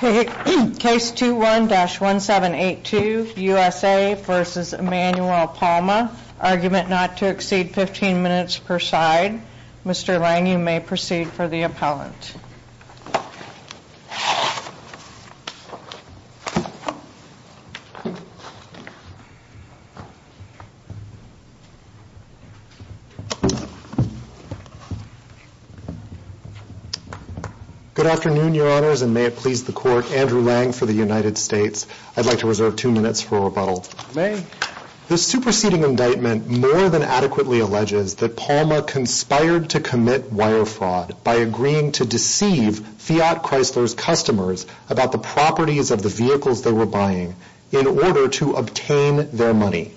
Case 21-1782, U.S.A. v. Emanuele Palma, Argument Not to Exceed 15 Minutes per Side. Mr. Lang, you may proceed for the appellant. Good afternoon, Your Honors, and may it please the Court, Andrew Lang for the United States. I'd like to reserve two minutes for rebuttal. May. The superseding indictment more than adequately alleges that Palma conspired to commit wire fraud by agreeing to deceive Fiat Chrysler's customers about the properties of the vehicles they were buying in order to obtain their money.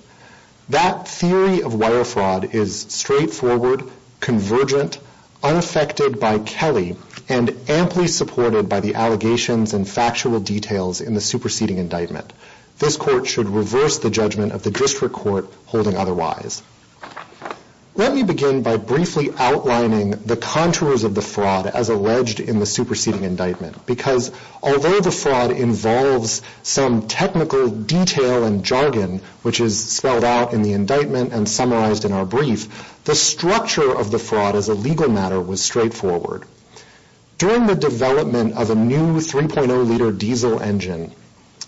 That theory of wire fraud is straightforward, convergent, unaffected by Kelly, and amply supported by the allegations and factual details in the superseding indictment. This Court should reverse the judgment of the District Court holding otherwise. Let me begin by briefly outlining the contours of the fraud as alleged in the superseding indictment, because although the fraud involves some technical detail and jargon, which is spelled out in the indictment and summarized in our brief, the structure of the fraud as a legal matter was straightforward. During the development of a new 3.0 liter diesel engine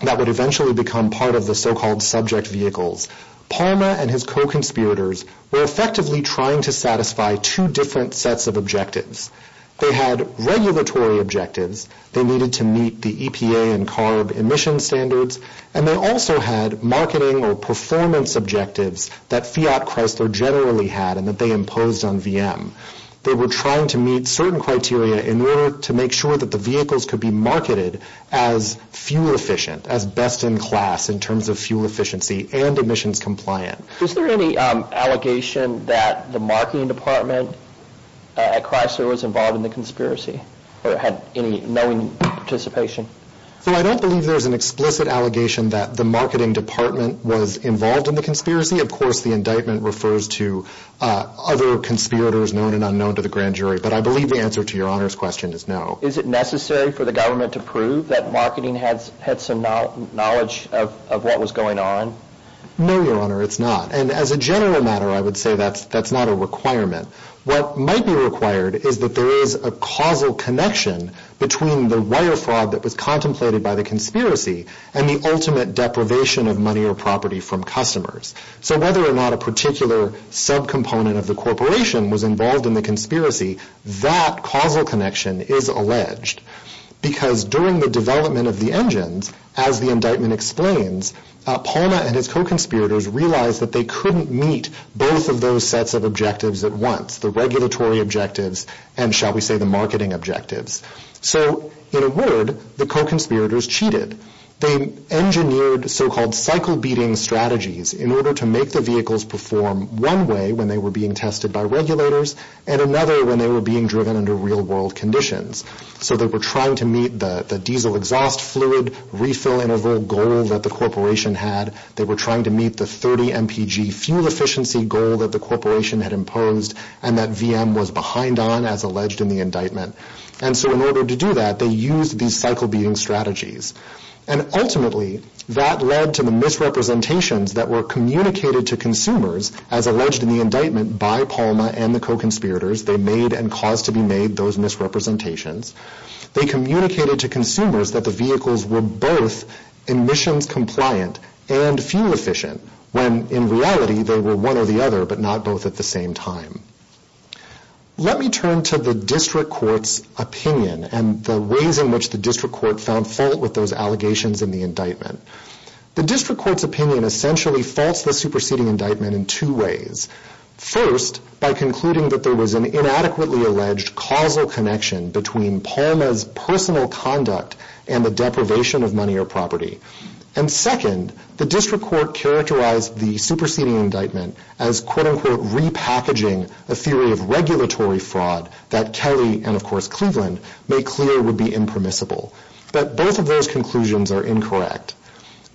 that would eventually become part of the so-called subject vehicles, Palma and his co-conspirators were effectively trying to satisfy two different sets of objectives. They had regulatory objectives, they needed to meet the EPA and CARB emission standards, and they also had marketing or performance objectives that Fiat Chrysler generally had and that they imposed on VM. They were trying to meet certain criteria in order to make sure that the vehicles could be marketed as fuel-efficient, as best-in-class in terms of fuel efficiency and emissions compliant. Is there any allegation that the marketing department at Chrysler was involved in the conspiracy or had any knowing participation? I don't believe there's an explicit allegation that the marketing department was involved in the conspiracy. Of course, the indictment refers to other conspirators known and unknown to the grand jury, but I believe the answer to your Honor's question is no. Is it necessary for the government to prove that marketing had some knowledge of what was going on? No, Your Honor, it's not. And as a general matter, I would say that's not a requirement. What might be required is that there is a causal connection between the wire fraud that was contemplated by the conspiracy and the ultimate deprivation of money or property from customers. So whether or not a particular sub-component of the corporation was involved in the conspiracy, that causal connection is alleged. Because during the development of the engines, as the indictment explains, Palma and his co-conspirators realized that they couldn't meet both of those sets of objectives at once, the regulatory objectives and, shall we say, the marketing objectives. So in a word, the co-conspirators cheated. They engineered so-called cycle-beating strategies in order to make the vehicles perform one way when they were being tested by regulators and another when they were being driven under real-world conditions. So they were trying to meet the diesel exhaust fluid refill interval goal that the corporation had. They were trying to meet the 30 mpg fuel efficiency goal that the corporation had imposed and that VM was behind on as alleged in the indictment. And so in order to do that, they used these cycle-beating strategies. And ultimately, that led to the misrepresentations that were communicated to consumers as alleged in the indictment by Palma and the co-conspirators. They made and caused to be made those misrepresentations. They communicated to consumers that the vehicles were both emissions compliant and fuel efficient when in reality they were one or the other but not both at the same time. Let me turn to the district court's opinion and the ways in which the district court found fault with those allegations in the indictment. The district court's opinion essentially faults the superseding indictment in two ways. First, by concluding that there was an inadequately alleged causal connection between Palma's personal conduct and the deprivation of money or property. And second, the district court characterized the superseding indictment as quote-unquote repackaging a theory of regulatory fraud that Kelly and of course Cleveland made clear would be impermissible. But both of those conclusions are incorrect.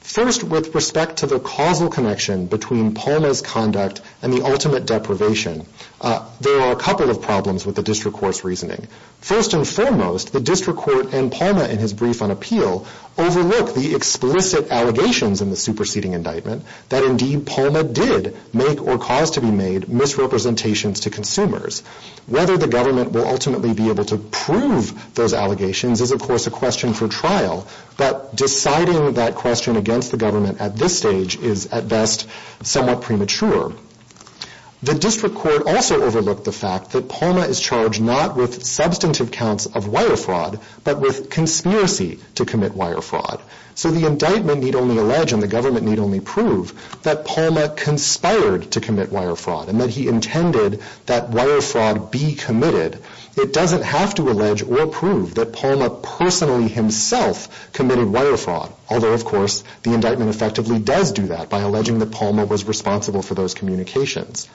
First, with respect to the causal connection between Palma's conduct and the ultimate deprivation, there are a couple of problems with the district court's reasoning. First and foremost, the district court and Palma in his brief on appeal overlooked the explicit allegations in the superseding indictment that indeed Palma did make or cause to be made misrepresentations to consumers. Whether the government will ultimately be able to prove those allegations is of course a question for trial, but deciding that question against the government at this stage is at best somewhat premature. The district court also overlooked the fact that Palma is charged not with substantive counts of wire fraud, but with conspiracy to commit wire fraud. So the indictment need only allege and the government need only prove that Palma conspired to commit wire fraud and that he intended that wire fraud be committed. It doesn't have to allege or prove that Palma personally himself committed wire fraud, although of course the indictment effectively does do that by alleging that Palma was responsible for those communications.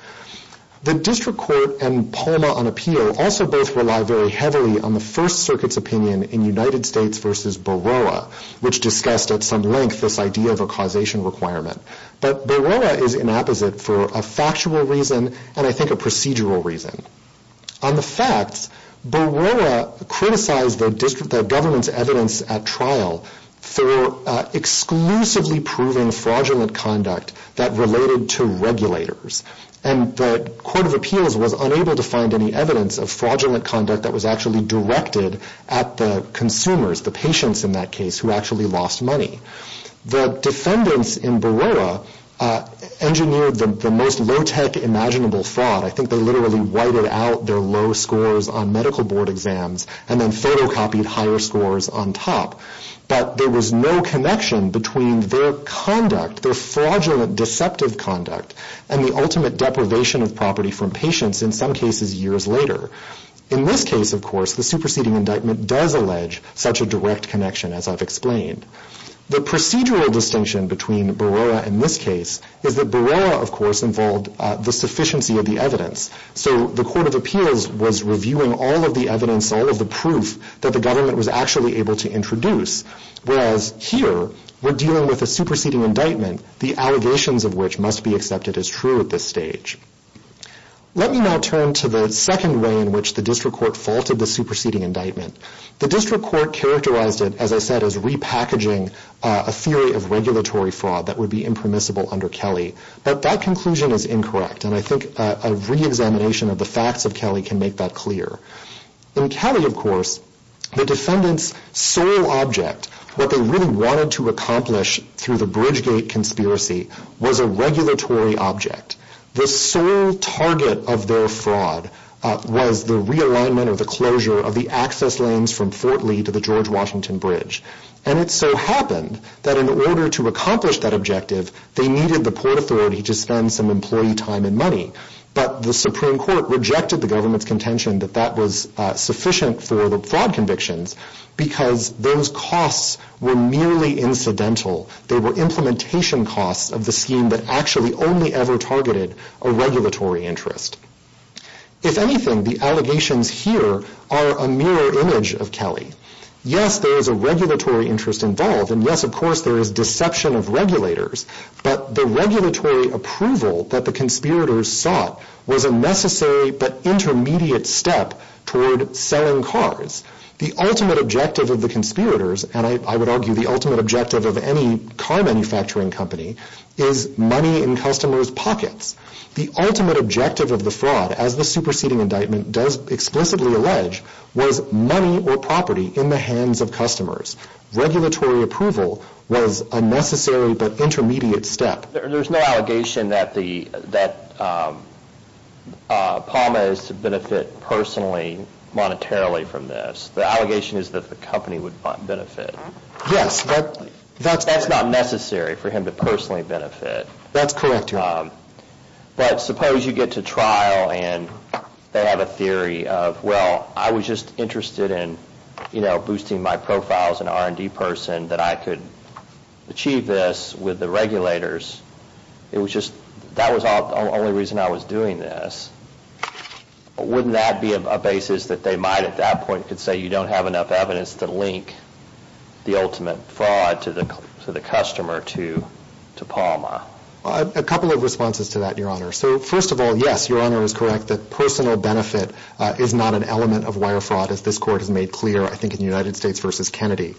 The district court and Palma on appeal also both rely very heavily on the First Circuit's opinion in United States versus Baroah, which discussed at some length this idea of a causation requirement. But Baroah is inapposite for a factual reason and I think a procedural reason. On the facts, Baroah criticized the government's evidence at trial for exclusively proving fraudulent conduct that related to regulators, and the Court of Appeals was unable to find any evidence of fraudulent conduct that was actually directed at the consumers, the patients in that case, who actually lost money. The defendants in Baroah engineered the most low-tech imaginable fraud. I think they literally whited out their low scores on medical board exams and then photocopied higher scores on top. But there was no connection between their conduct, their fraudulent deceptive conduct, and the ultimate deprivation of property from patients in some cases years later. In this case, of course, the superseding indictment does allege such a direct connection as I've explained. The procedural distinction between Baroah and this case is that Baroah, of course, involved the sufficiency of the evidence. So the Court of Appeals was reviewing all of the evidence, all of the proof that the government was actually able to introduce, whereas here we're dealing with a superseding indictment, the allegations of which must be accepted as true at this stage. Let me now turn to the second way in which the District Court faulted the superseding indictment. The District Court characterized it, as I said, as repackaging a theory of regulatory fraud that would be impermissible under Kelly. But that conclusion is incorrect, and I think a reexamination of the facts of Kelly can make that clear. In Kelly, of course, the defendant's sole object, what they really wanted to accomplish through the Bridgegate conspiracy, was a regulatory object. The sole target of their fraud was the realignment or the closure of the access lanes from Fort Lee to the George Washington Bridge. And it so happened that in order to accomplish that objective, they needed the Port Authority to spend some employee time and money. But the Supreme Court rejected the government's contention that that was sufficient for the fraud convictions because those costs were merely incidental. They were implementation costs of the scheme that actually only ever targeted a regulatory interest. If anything, the allegations here are a mirror image of Kelly. Yes, there is a regulatory interest involved, and yes, of course, there is deception of regulators. But the regulatory approval that the conspirators sought was a necessary but intermediate step toward selling cars. The ultimate objective of the conspirators, and I would argue the ultimate objective of any car manufacturing company, is money in customers' pockets. The ultimate objective of the fraud, as the superseding indictment does explicitly allege, was money or property in the hands of customers. Regulatory approval was a necessary but intermediate step. There's no allegation that the, that Palma is to benefit personally, monetarily from this. The allegation is that the company would benefit. Yes, but that's not necessary for him to personally benefit. That's correct. But suppose you get to trial and they have a theory of, well, I was just interested in, you know, boosting my profile as an R&D person, that I could achieve this with the it was just, that was the only reason I was doing this. Wouldn't that be a basis that they might, at that point, could say you don't have enough evidence to link the ultimate fraud to the, to the customer, to, to Palma? A couple of responses to that, Your Honor. So first of all, yes, Your Honor is correct that personal benefit is not an element of wire fraud, as this court has made clear, I think, in the United States versus Kennedy.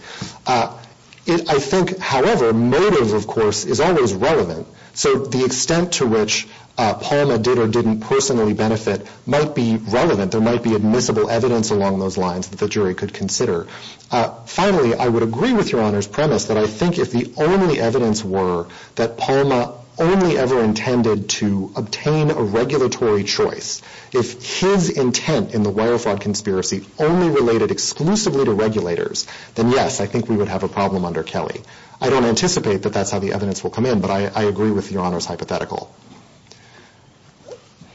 I think, however, motive, of course, is always relevant. So the extent to which Palma did or didn't personally benefit might be relevant. There might be admissible evidence along those lines that the jury could consider. Finally, I would agree with Your Honor's premise that I think if the only evidence were that Palma only ever intended to obtain a regulatory choice, if his intent in the I don't anticipate that that's how the evidence will come in, but I, I agree with Your Honor's hypothetical.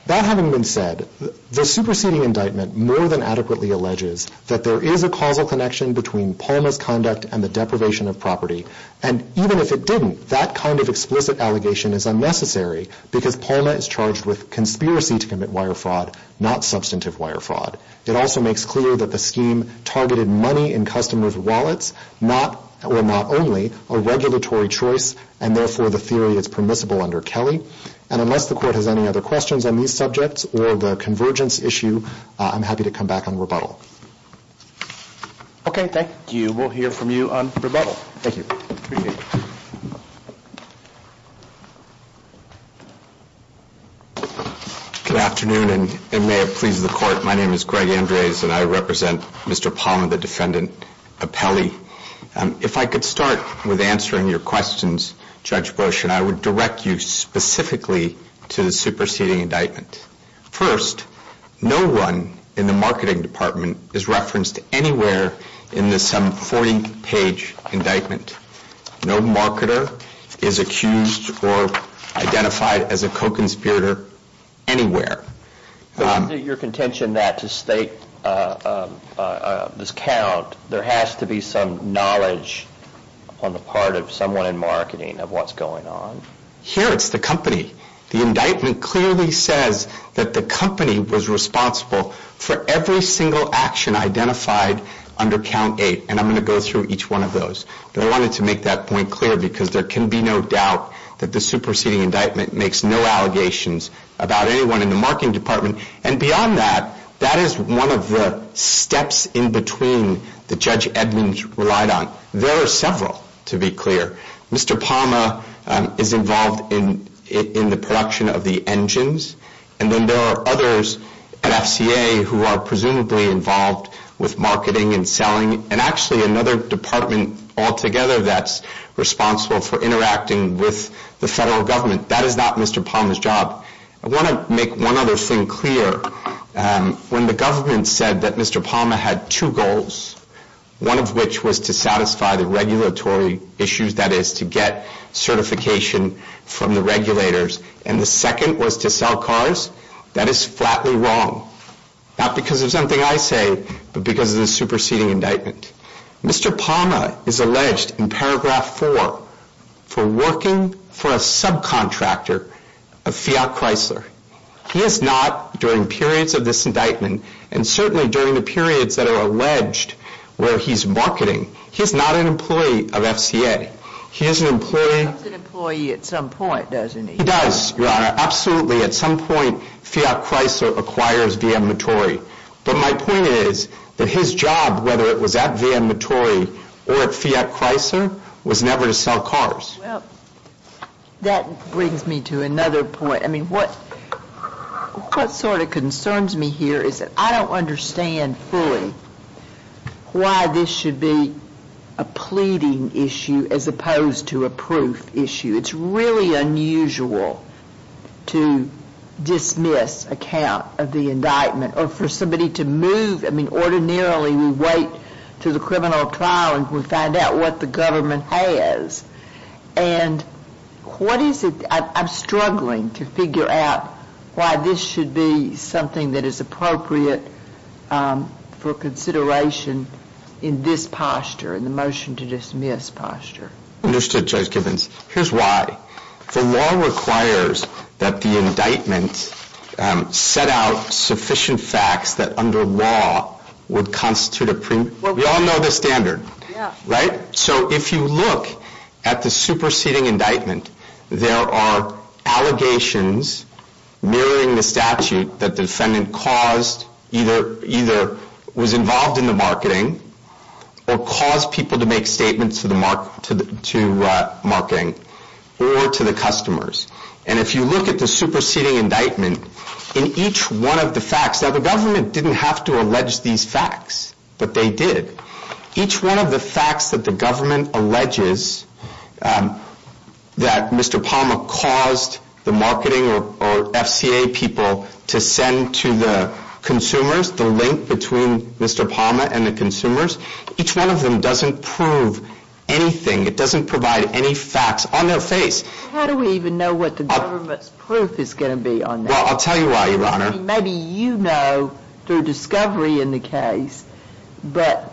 That having been said, the superseding indictment more than adequately alleges that there is a causal connection between Palma's conduct and the deprivation of property. And even if it didn't, that kind of explicit allegation is unnecessary because Palma is charged with conspiracy to commit wire fraud, not substantive wire fraud. It also makes clear that the scheme targeted money in customers' wallets, not, or not only, a regulatory choice, and therefore the theory is permissible under Kelly. And unless the court has any other questions on these subjects or the convergence issue, I'm happy to come back on rebuttal. Okay. Thank you. We'll hear from you on rebuttal. Thank you. Good afternoon, and may it please the court. My name is Greg Andres, and I represent Mr. Palma, the defendant of Kelly. If I could start with answering your questions, Judge Bush, and I would direct you specifically to the superseding indictment. First, no one in the marketing department is referenced anywhere in this 40 page indictment. No marketer is accused or identified as a co-conspirator anywhere. Is it your contention that to state this count, there has to be some knowledge on the part of someone in marketing of what's going on? Here, it's the company. The indictment clearly says that the company was responsible for every single action identified under count eight, and I'm going to go through each one of those. But I wanted to make that point clear because there can be no doubt that the superseding indictment makes no allegations about anyone in the marketing department. And beyond that, that is one of the steps in between that Judge Edmonds relied on. There are several, to be clear. Mr. Palma is involved in the production of the engines. And then there are others at FCA who are presumably involved with marketing and selling, and actually another department altogether that's responsible for that. That is not Mr. Palma's job. I want to make one other thing clear. When the government said that Mr. Palma had two goals, one of which was to satisfy the regulatory issues, that is to get certification from the regulators. And the second was to sell cars. That is flatly wrong, not because of something I say, but because of the superseding indictment. Mr. Palma is alleged in paragraph four for working for a subcontractor of Fiat Chrysler. He is not, during periods of this indictment, and certainly during the periods that are alleged where he's marketing, he's not an employee of FCA. He is an employee. He's an employee at some point, doesn't he? He does, Your Honor. Absolutely. At some point, Fiat Chrysler acquires VM Notori. But my point is that his job, whether it was at VM Notori or at Fiat Chrysler, was never to sell cars. Well, that brings me to another point. I mean, what sort of concerns me here is that I don't understand fully why this should be a pleading issue as opposed to a proof issue. It's really unusual to dismiss a count of the indictment or for somebody to move. I mean, ordinarily, we wait to the criminal trial and we find out what the government has. And what is it, I'm struggling to figure out why this should be something that is appropriate for consideration in this posture, in the motion to dismiss posture. Understood, Judge Givens. Here's why. The law requires that the indictment set out sufficient facts that under law would constitute a premium. Well, we all know the standard, right? So if you look at the superseding indictment, there are allegations mirroring the statute that the defendant caused, either was involved in the marketing or caused people to make statements to marketing or to the customers. And if you look at the superseding indictment, in each one of the facts that the government didn't have to allege these facts, but they did, each one of the facts that the government alleges that Mr. Palma caused the marketing or FCA people to send to the consumers, the link between Mr. Palma and the consumers, each one of them doesn't prove anything. It doesn't provide any facts on their face. How do we even know what the government's proof is going to be on that? Well, I'll tell you why, Your Honor. Maybe you know through discovery in the case, but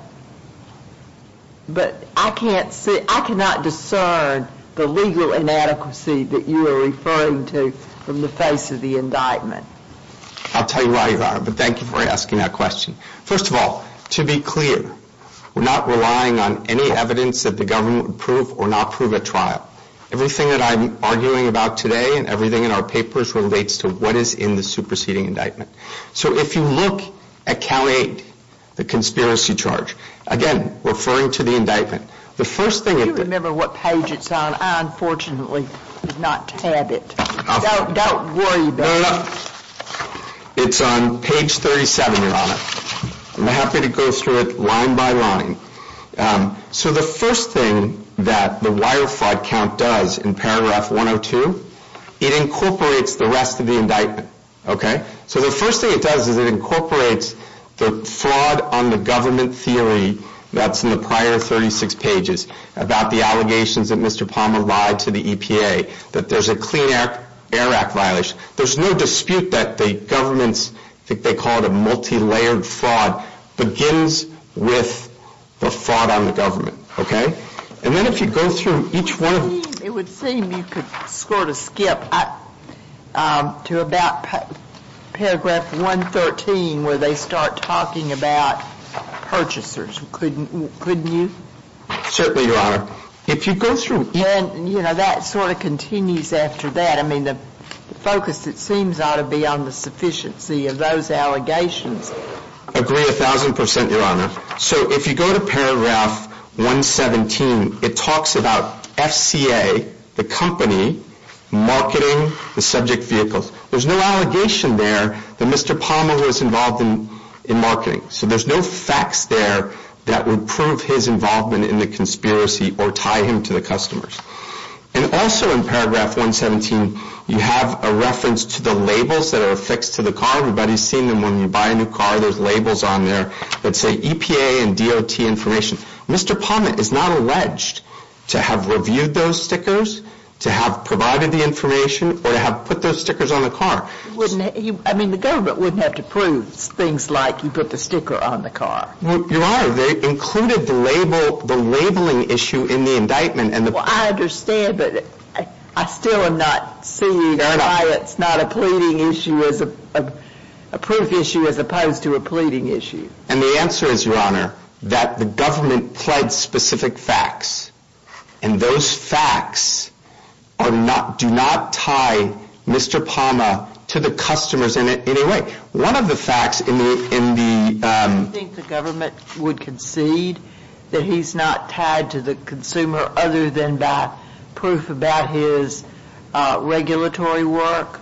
I cannot discern the legal inadequacy that you are referring to from the face of the indictment. I'll tell you why, Your Honor, but thank you for asking that question. First of all, to be clear, we're not relying on any evidence that the government would prove or not prove at trial. Everything that I'm arguing about today and everything in our papers relates to what is in the superseding indictment. So if you look at count eight, the conspiracy charge, again, referring to the indictment, the first thing- Do you remember what page it's on? I unfortunately did not have it. Don't worry about it. It's on page 37, Your Honor. I'm happy to go through it line by line. So the first thing that the wire fraud count does in paragraph 102, it incorporates the rest of the indictment. Okay? So the first thing it does is it incorporates the fraud on the government theory that's in the prior 36 pages about the allegations that Mr. Palmer lied to the EPA, that there's a Clean Air Act violation. There's no dispute that the government's, I think they call it a multi-layered fraud, begins with the fraud on the government. Okay? And then if you go through each one- It would seem you could sort of skip to about paragraph 113, where they start talking about purchasers. Couldn't you? Certainly, Your Honor. If you go through- And, you know, that sort of continues after that. I mean, the focus, it seems, ought to be on the sufficiency of those allegations. Agree a thousand percent, Your Honor. So if you go to paragraph 117, it talks about FCA, the company, marketing, the subject vehicles. There's no allegation there that Mr. Palmer was involved in marketing. So there's no facts there that would prove his involvement in the conspiracy or tie him to the customers. And also in paragraph 117, you have a reference to the labels that are affixed to the car. Everybody's seen them. When you buy a new car, there's labels on there that say EPA and DOT information. Mr. Palmer is not alleged to have reviewed those stickers, to have provided the information, or to have put those stickers on the car. Wouldn't he? I mean, the government wouldn't have to prove things like you put the sticker on the car. Your Honor, they included the label, the labeling issue in the indictment. Well, I understand, but I still am not seeing why it's not a pleading issue as a proof issue as opposed to a pleading issue. And the answer is, Your Honor, that the government pled specific facts. And those facts are not, do not tie Mr. Palmer to the customers in a way. One of the facts in the, in the, um. That he's not tied to the consumer other than by proof about his, uh, regulatory work?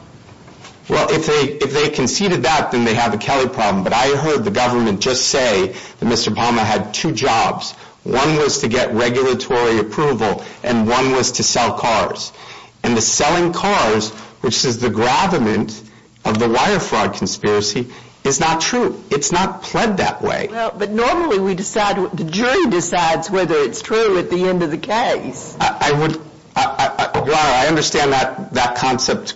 Well, if they, if they conceded that, then they have a Kelly problem. But I heard the government just say that Mr. Palmer had two jobs. One was to get regulatory approval, and one was to sell cars. And the selling cars, which is the gravament of the wire fraud conspiracy, is not true. It's not pled that way. But normally we decide, the jury decides whether it's true at the end of the case. I would, Your Honor, I understand that, that concept.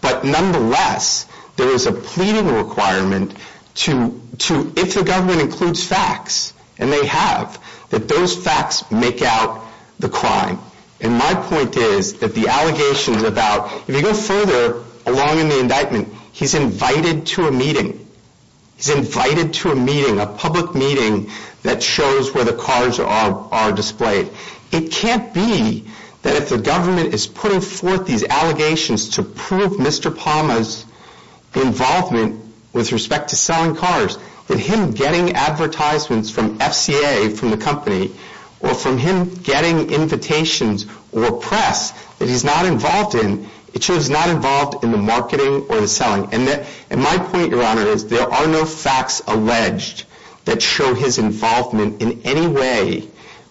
But nonetheless, there is a pleading requirement to, to, if the government includes facts, and they have, that those facts make out the crime. And my point is that the allegations about, if you go further along in the indictment, he's invited to a meeting. He's invited to a meeting, a public meeting that shows where the cars are, are displayed. It can't be that if the government is putting forth these allegations to prove Mr. Palmer's involvement with respect to selling cars, that him getting advertisements from FCA, from the company, or from him getting invitations or press that he's not involved in, it shows he's not involved in the marketing or the selling. And that, and my point, Your Honor, is there are no facts alleged that show his involvement in any way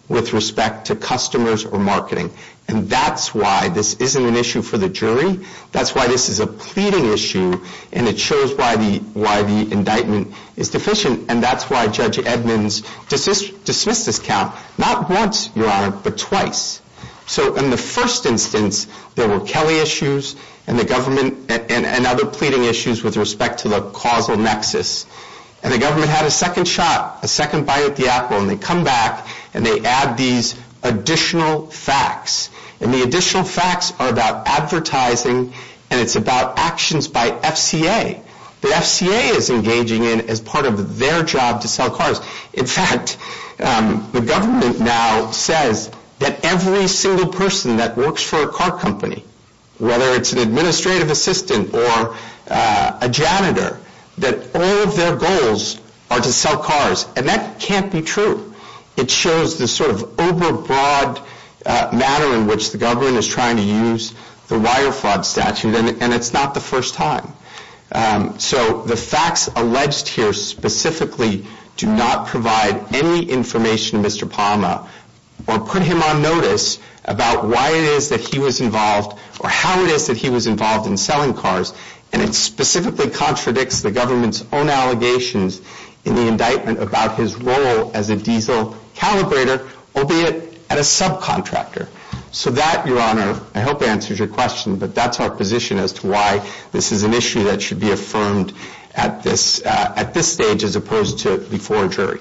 with respect to customers or marketing. And that's why this isn't an issue for the jury. That's why this is a pleading issue and it shows why the, why the indictment is deficient. And that's why Judge Edmonds dismissed this count, not once, Your Honor, but twice. So in the first instance, there were Kelly issues and the government and, and other pleading issues with respect to the causal nexus. And the government had a second shot, a second bite at the apple, and they come back and they add these additional facts. And the additional facts are about advertising and it's about actions by FCA. The FCA is engaging in as part of their job to sell cars. In fact, the government now says that every single person that works for a car company, whether it's an administrative assistant or a janitor, that all of their goals are to sell cars. And that can't be true. It shows the sort of overbroad manner in which the government is trying to use the wire fraud statute and it's not the first time. So the facts alleged here specifically do not provide any information to Mr. or how it is that he was involved in selling cars. And it specifically contradicts the government's own allegations in the indictment about his role as a diesel calibrator, albeit at a subcontractor. So that, Your Honor, I hope answers your question, but that's our position as to why this is an issue that should be affirmed at this, at this stage, as opposed to before a jury.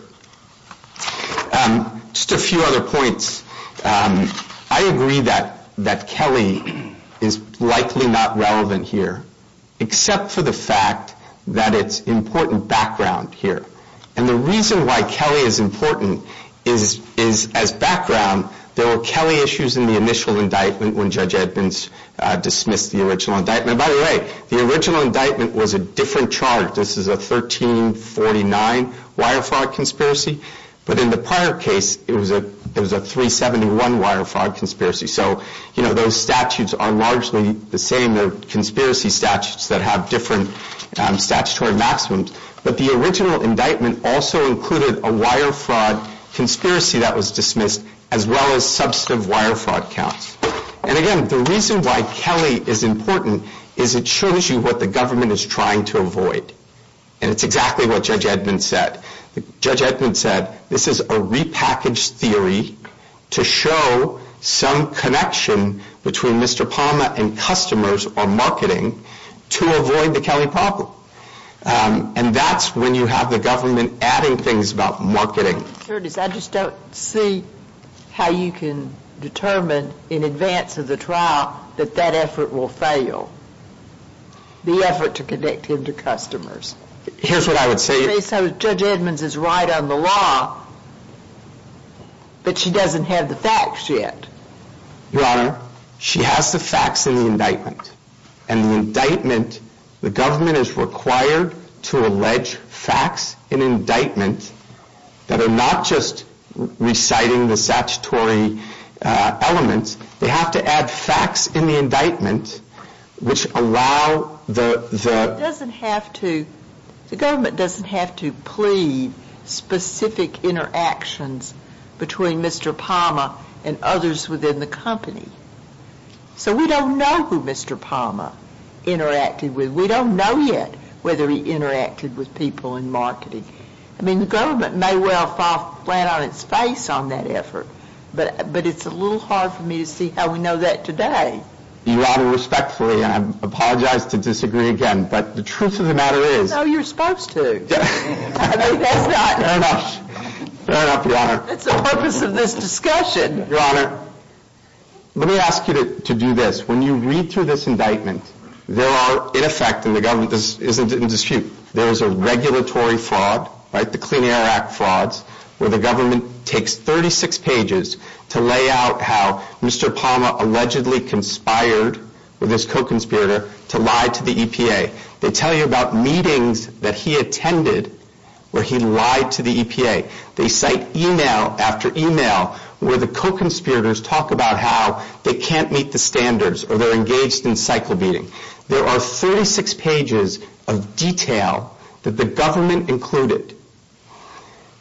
Just a few other points. I agree that, that Kelly is likely not relevant here, except for the fact that it's important background here. And the reason why Kelly is important is, is as background, there were Kelly issues in the initial indictment when Judge Edmonds dismissed the original indictment. By the way, the original indictment was a different charge. This is a 1349 wire fraud conspiracy. But in the prior case, it was a, it was a 371 wire fraud conspiracy. So, you know, those statutes are largely the same conspiracy statutes that have different statutory maximums, but the original indictment also included a wire fraud conspiracy that was dismissed as well as substantive wire fraud counts. And again, the reason why Kelly is important is it shows you what the government is trying to avoid. And it's exactly what Judge Edmonds said. Judge Edmonds said, this is a repackaged theory to show some connection between Mr. Palma and customers or marketing to avoid the Kelly problem. And that's when you have the government adding things about marketing. Curtis, I just don't see how you can determine in advance of the trial that that effort will fail, the effort to connect him to customers. Here's what I would say. Judge Edmonds is right on the law, but she doesn't have the facts yet. Your honor, she has the facts in the indictment and the indictment, the government is required to allege facts in indictment that are not just reciting the statutory elements. They have to add facts in the indictment, which allow the, the, it doesn't have to, the government doesn't have to plead specific interactions between Mr. Palma and others within the company. So we don't know who Mr. Palma interacted with. We don't know yet whether he interacted with people in marketing. I mean, the government may well fall flat on its face on that effort, but, but it's a little hard for me to see how we know that today. Your honor, respectfully, and I apologize to disagree again, but the truth of the matter is, no, you're supposed to, fair enough, fair enough, your honor. That's the purpose of this discussion. Your honor, let me ask you to, to do this. When you read through this indictment, there are in effect in the government, this isn't in dispute, there is a regulatory fraud, right? The Clean Air Act frauds where the government takes 36 pages to lay out how Mr. Palma allegedly conspired with his co-conspirator to lie to the EPA. They tell you about meetings that he attended where he lied to the EPA. They cite email after email where the co-conspirators talk about how they can't meet the standards or they're engaged in cycle beating. There are 36 pages of detail that the government included.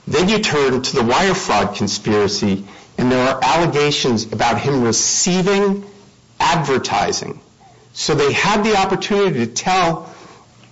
Then you turn to the wire fraud conspiracy and there are allegations about him receiving advertising. So they had the opportunity to tell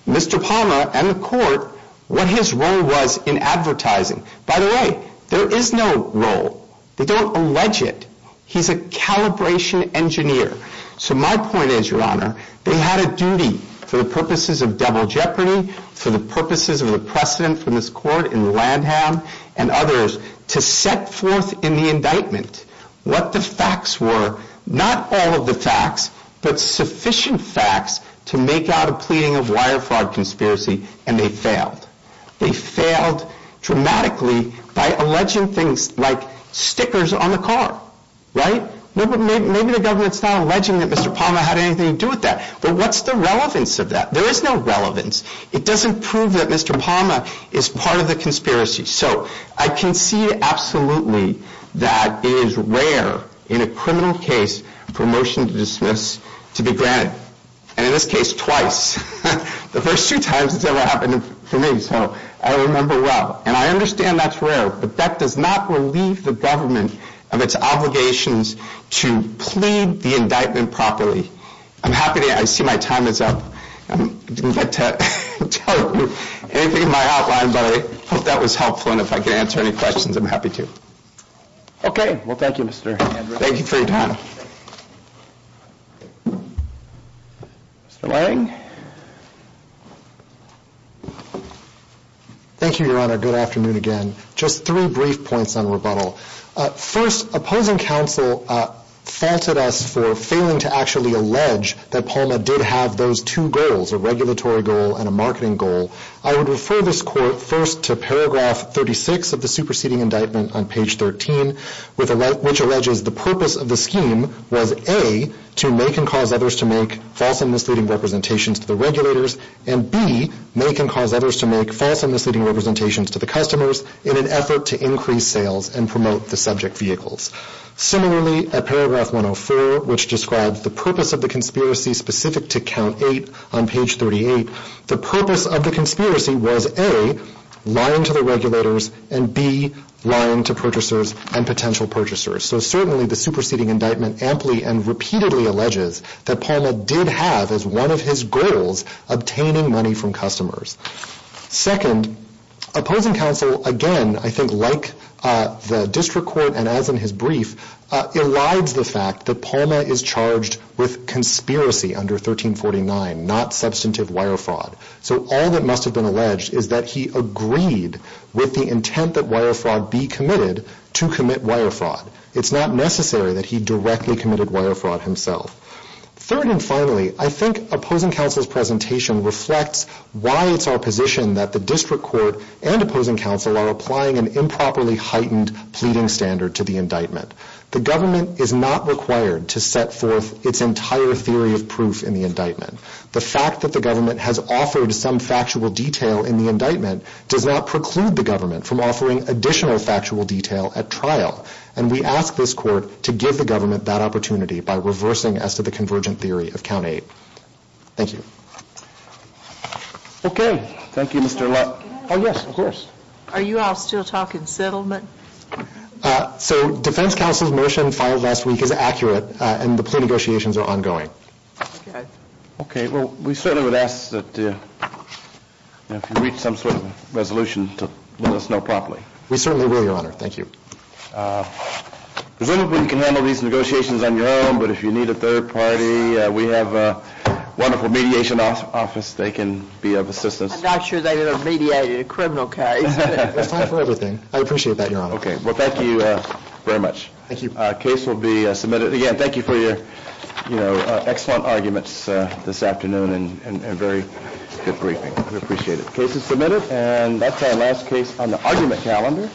Mr. Palma and the court what his role was in advertising. By the way, there is no role. They don't allege it. He's a calibration engineer. So my point is, your honor, they had a duty for the purposes of double jeopardy, for the purposes of the precedent from this court in Landham and others to set forth in the indictment what the facts were, not all of the facts, but sufficient facts to make out a pleading of wire fraud conspiracy. And they failed. They failed dramatically by alleging things like stickers on the car, right? No, but maybe the government's not alleging that Mr. Palma had anything to do with that, but what's the relevance of that? There is no relevance. It doesn't prove that Mr. Palma is part of the conspiracy. So I can see absolutely that it is rare in a criminal case for a motion to dismiss to be granted, and in this case twice, the first two times it's ever happened for me. So I remember well, and I understand that's rare, but that does not relieve the government of its obligations to plead the indictment properly. I'm happy to, I see my time is up. I'm glad to tell you anything in my outline, but I hope that was helpful. And if I can answer any questions, I'm happy to. Okay. Well, thank you, Mr. Thank you for your time. Mr. Lange. Thank you, Your Honor. Good afternoon again. Just three brief points on rebuttal. First, opposing counsel faulted us for failing to actually allege that Palma did have those two goals, a regulatory goal and a marketing goal. I would refer this court first to paragraph 36 of the superseding of the scheme was A, to make and cause others to make false and misleading representations to the regulators, and B, make and cause others to make false and misleading representations to the customers in an effort to increase sales and promote the subject vehicles. Similarly, at paragraph 104, which describes the purpose of the conspiracy specific to count eight on page 38, the purpose of the conspiracy was A, lying to the regulators and B, lying to purchasers and potential purchasers. So certainly the superseding indictment amply and repeatedly alleges that Palma did have as one of his goals, obtaining money from customers. Second, opposing counsel, again, I think like the district court and as in his brief, elides the fact that Palma is charged with conspiracy under 1349, not substantive wire fraud. So all that must've been alleged is that he agreed with the intent that wire fraud be committed to commit wire fraud. It's not necessary that he directly committed wire fraud himself. Third and finally, I think opposing counsel's presentation reflects why it's our position that the district court and opposing counsel are applying an improperly heightened pleading standard to the indictment. The government is not required to set forth its entire theory of proof in the indictment. The fact that the government has offered some factual detail in the indictment does not preclude the government from offering additional factual detail at trial. And we ask this court to give the government that opportunity by reversing as to the convergent theory of count eight. Thank you. Okay. Thank you, Mr. Oh yes, of course. Are you all still talking settlement? Uh, so defense counsel's motion filed last week is accurate and the plea negotiations are ongoing. Okay. Well, we certainly would ask that if you reach some sort of resolution to let us know properly. We certainly will, your honor. Thank you. Uh, presumably you can handle these negotiations on your own, but if you need a third party, uh, we have a wonderful mediation office, office. They can be of assistance. I'm not sure they're going to mediate a criminal case. It's time for everything. I appreciate that, your honor. Okay. Well, thank you very much. Thank you. A case will be submitted again. Thank you for your, you know, excellent arguments this afternoon and very good briefing. We appreciate it. Case is submitted and that's our last case on the argument calendar.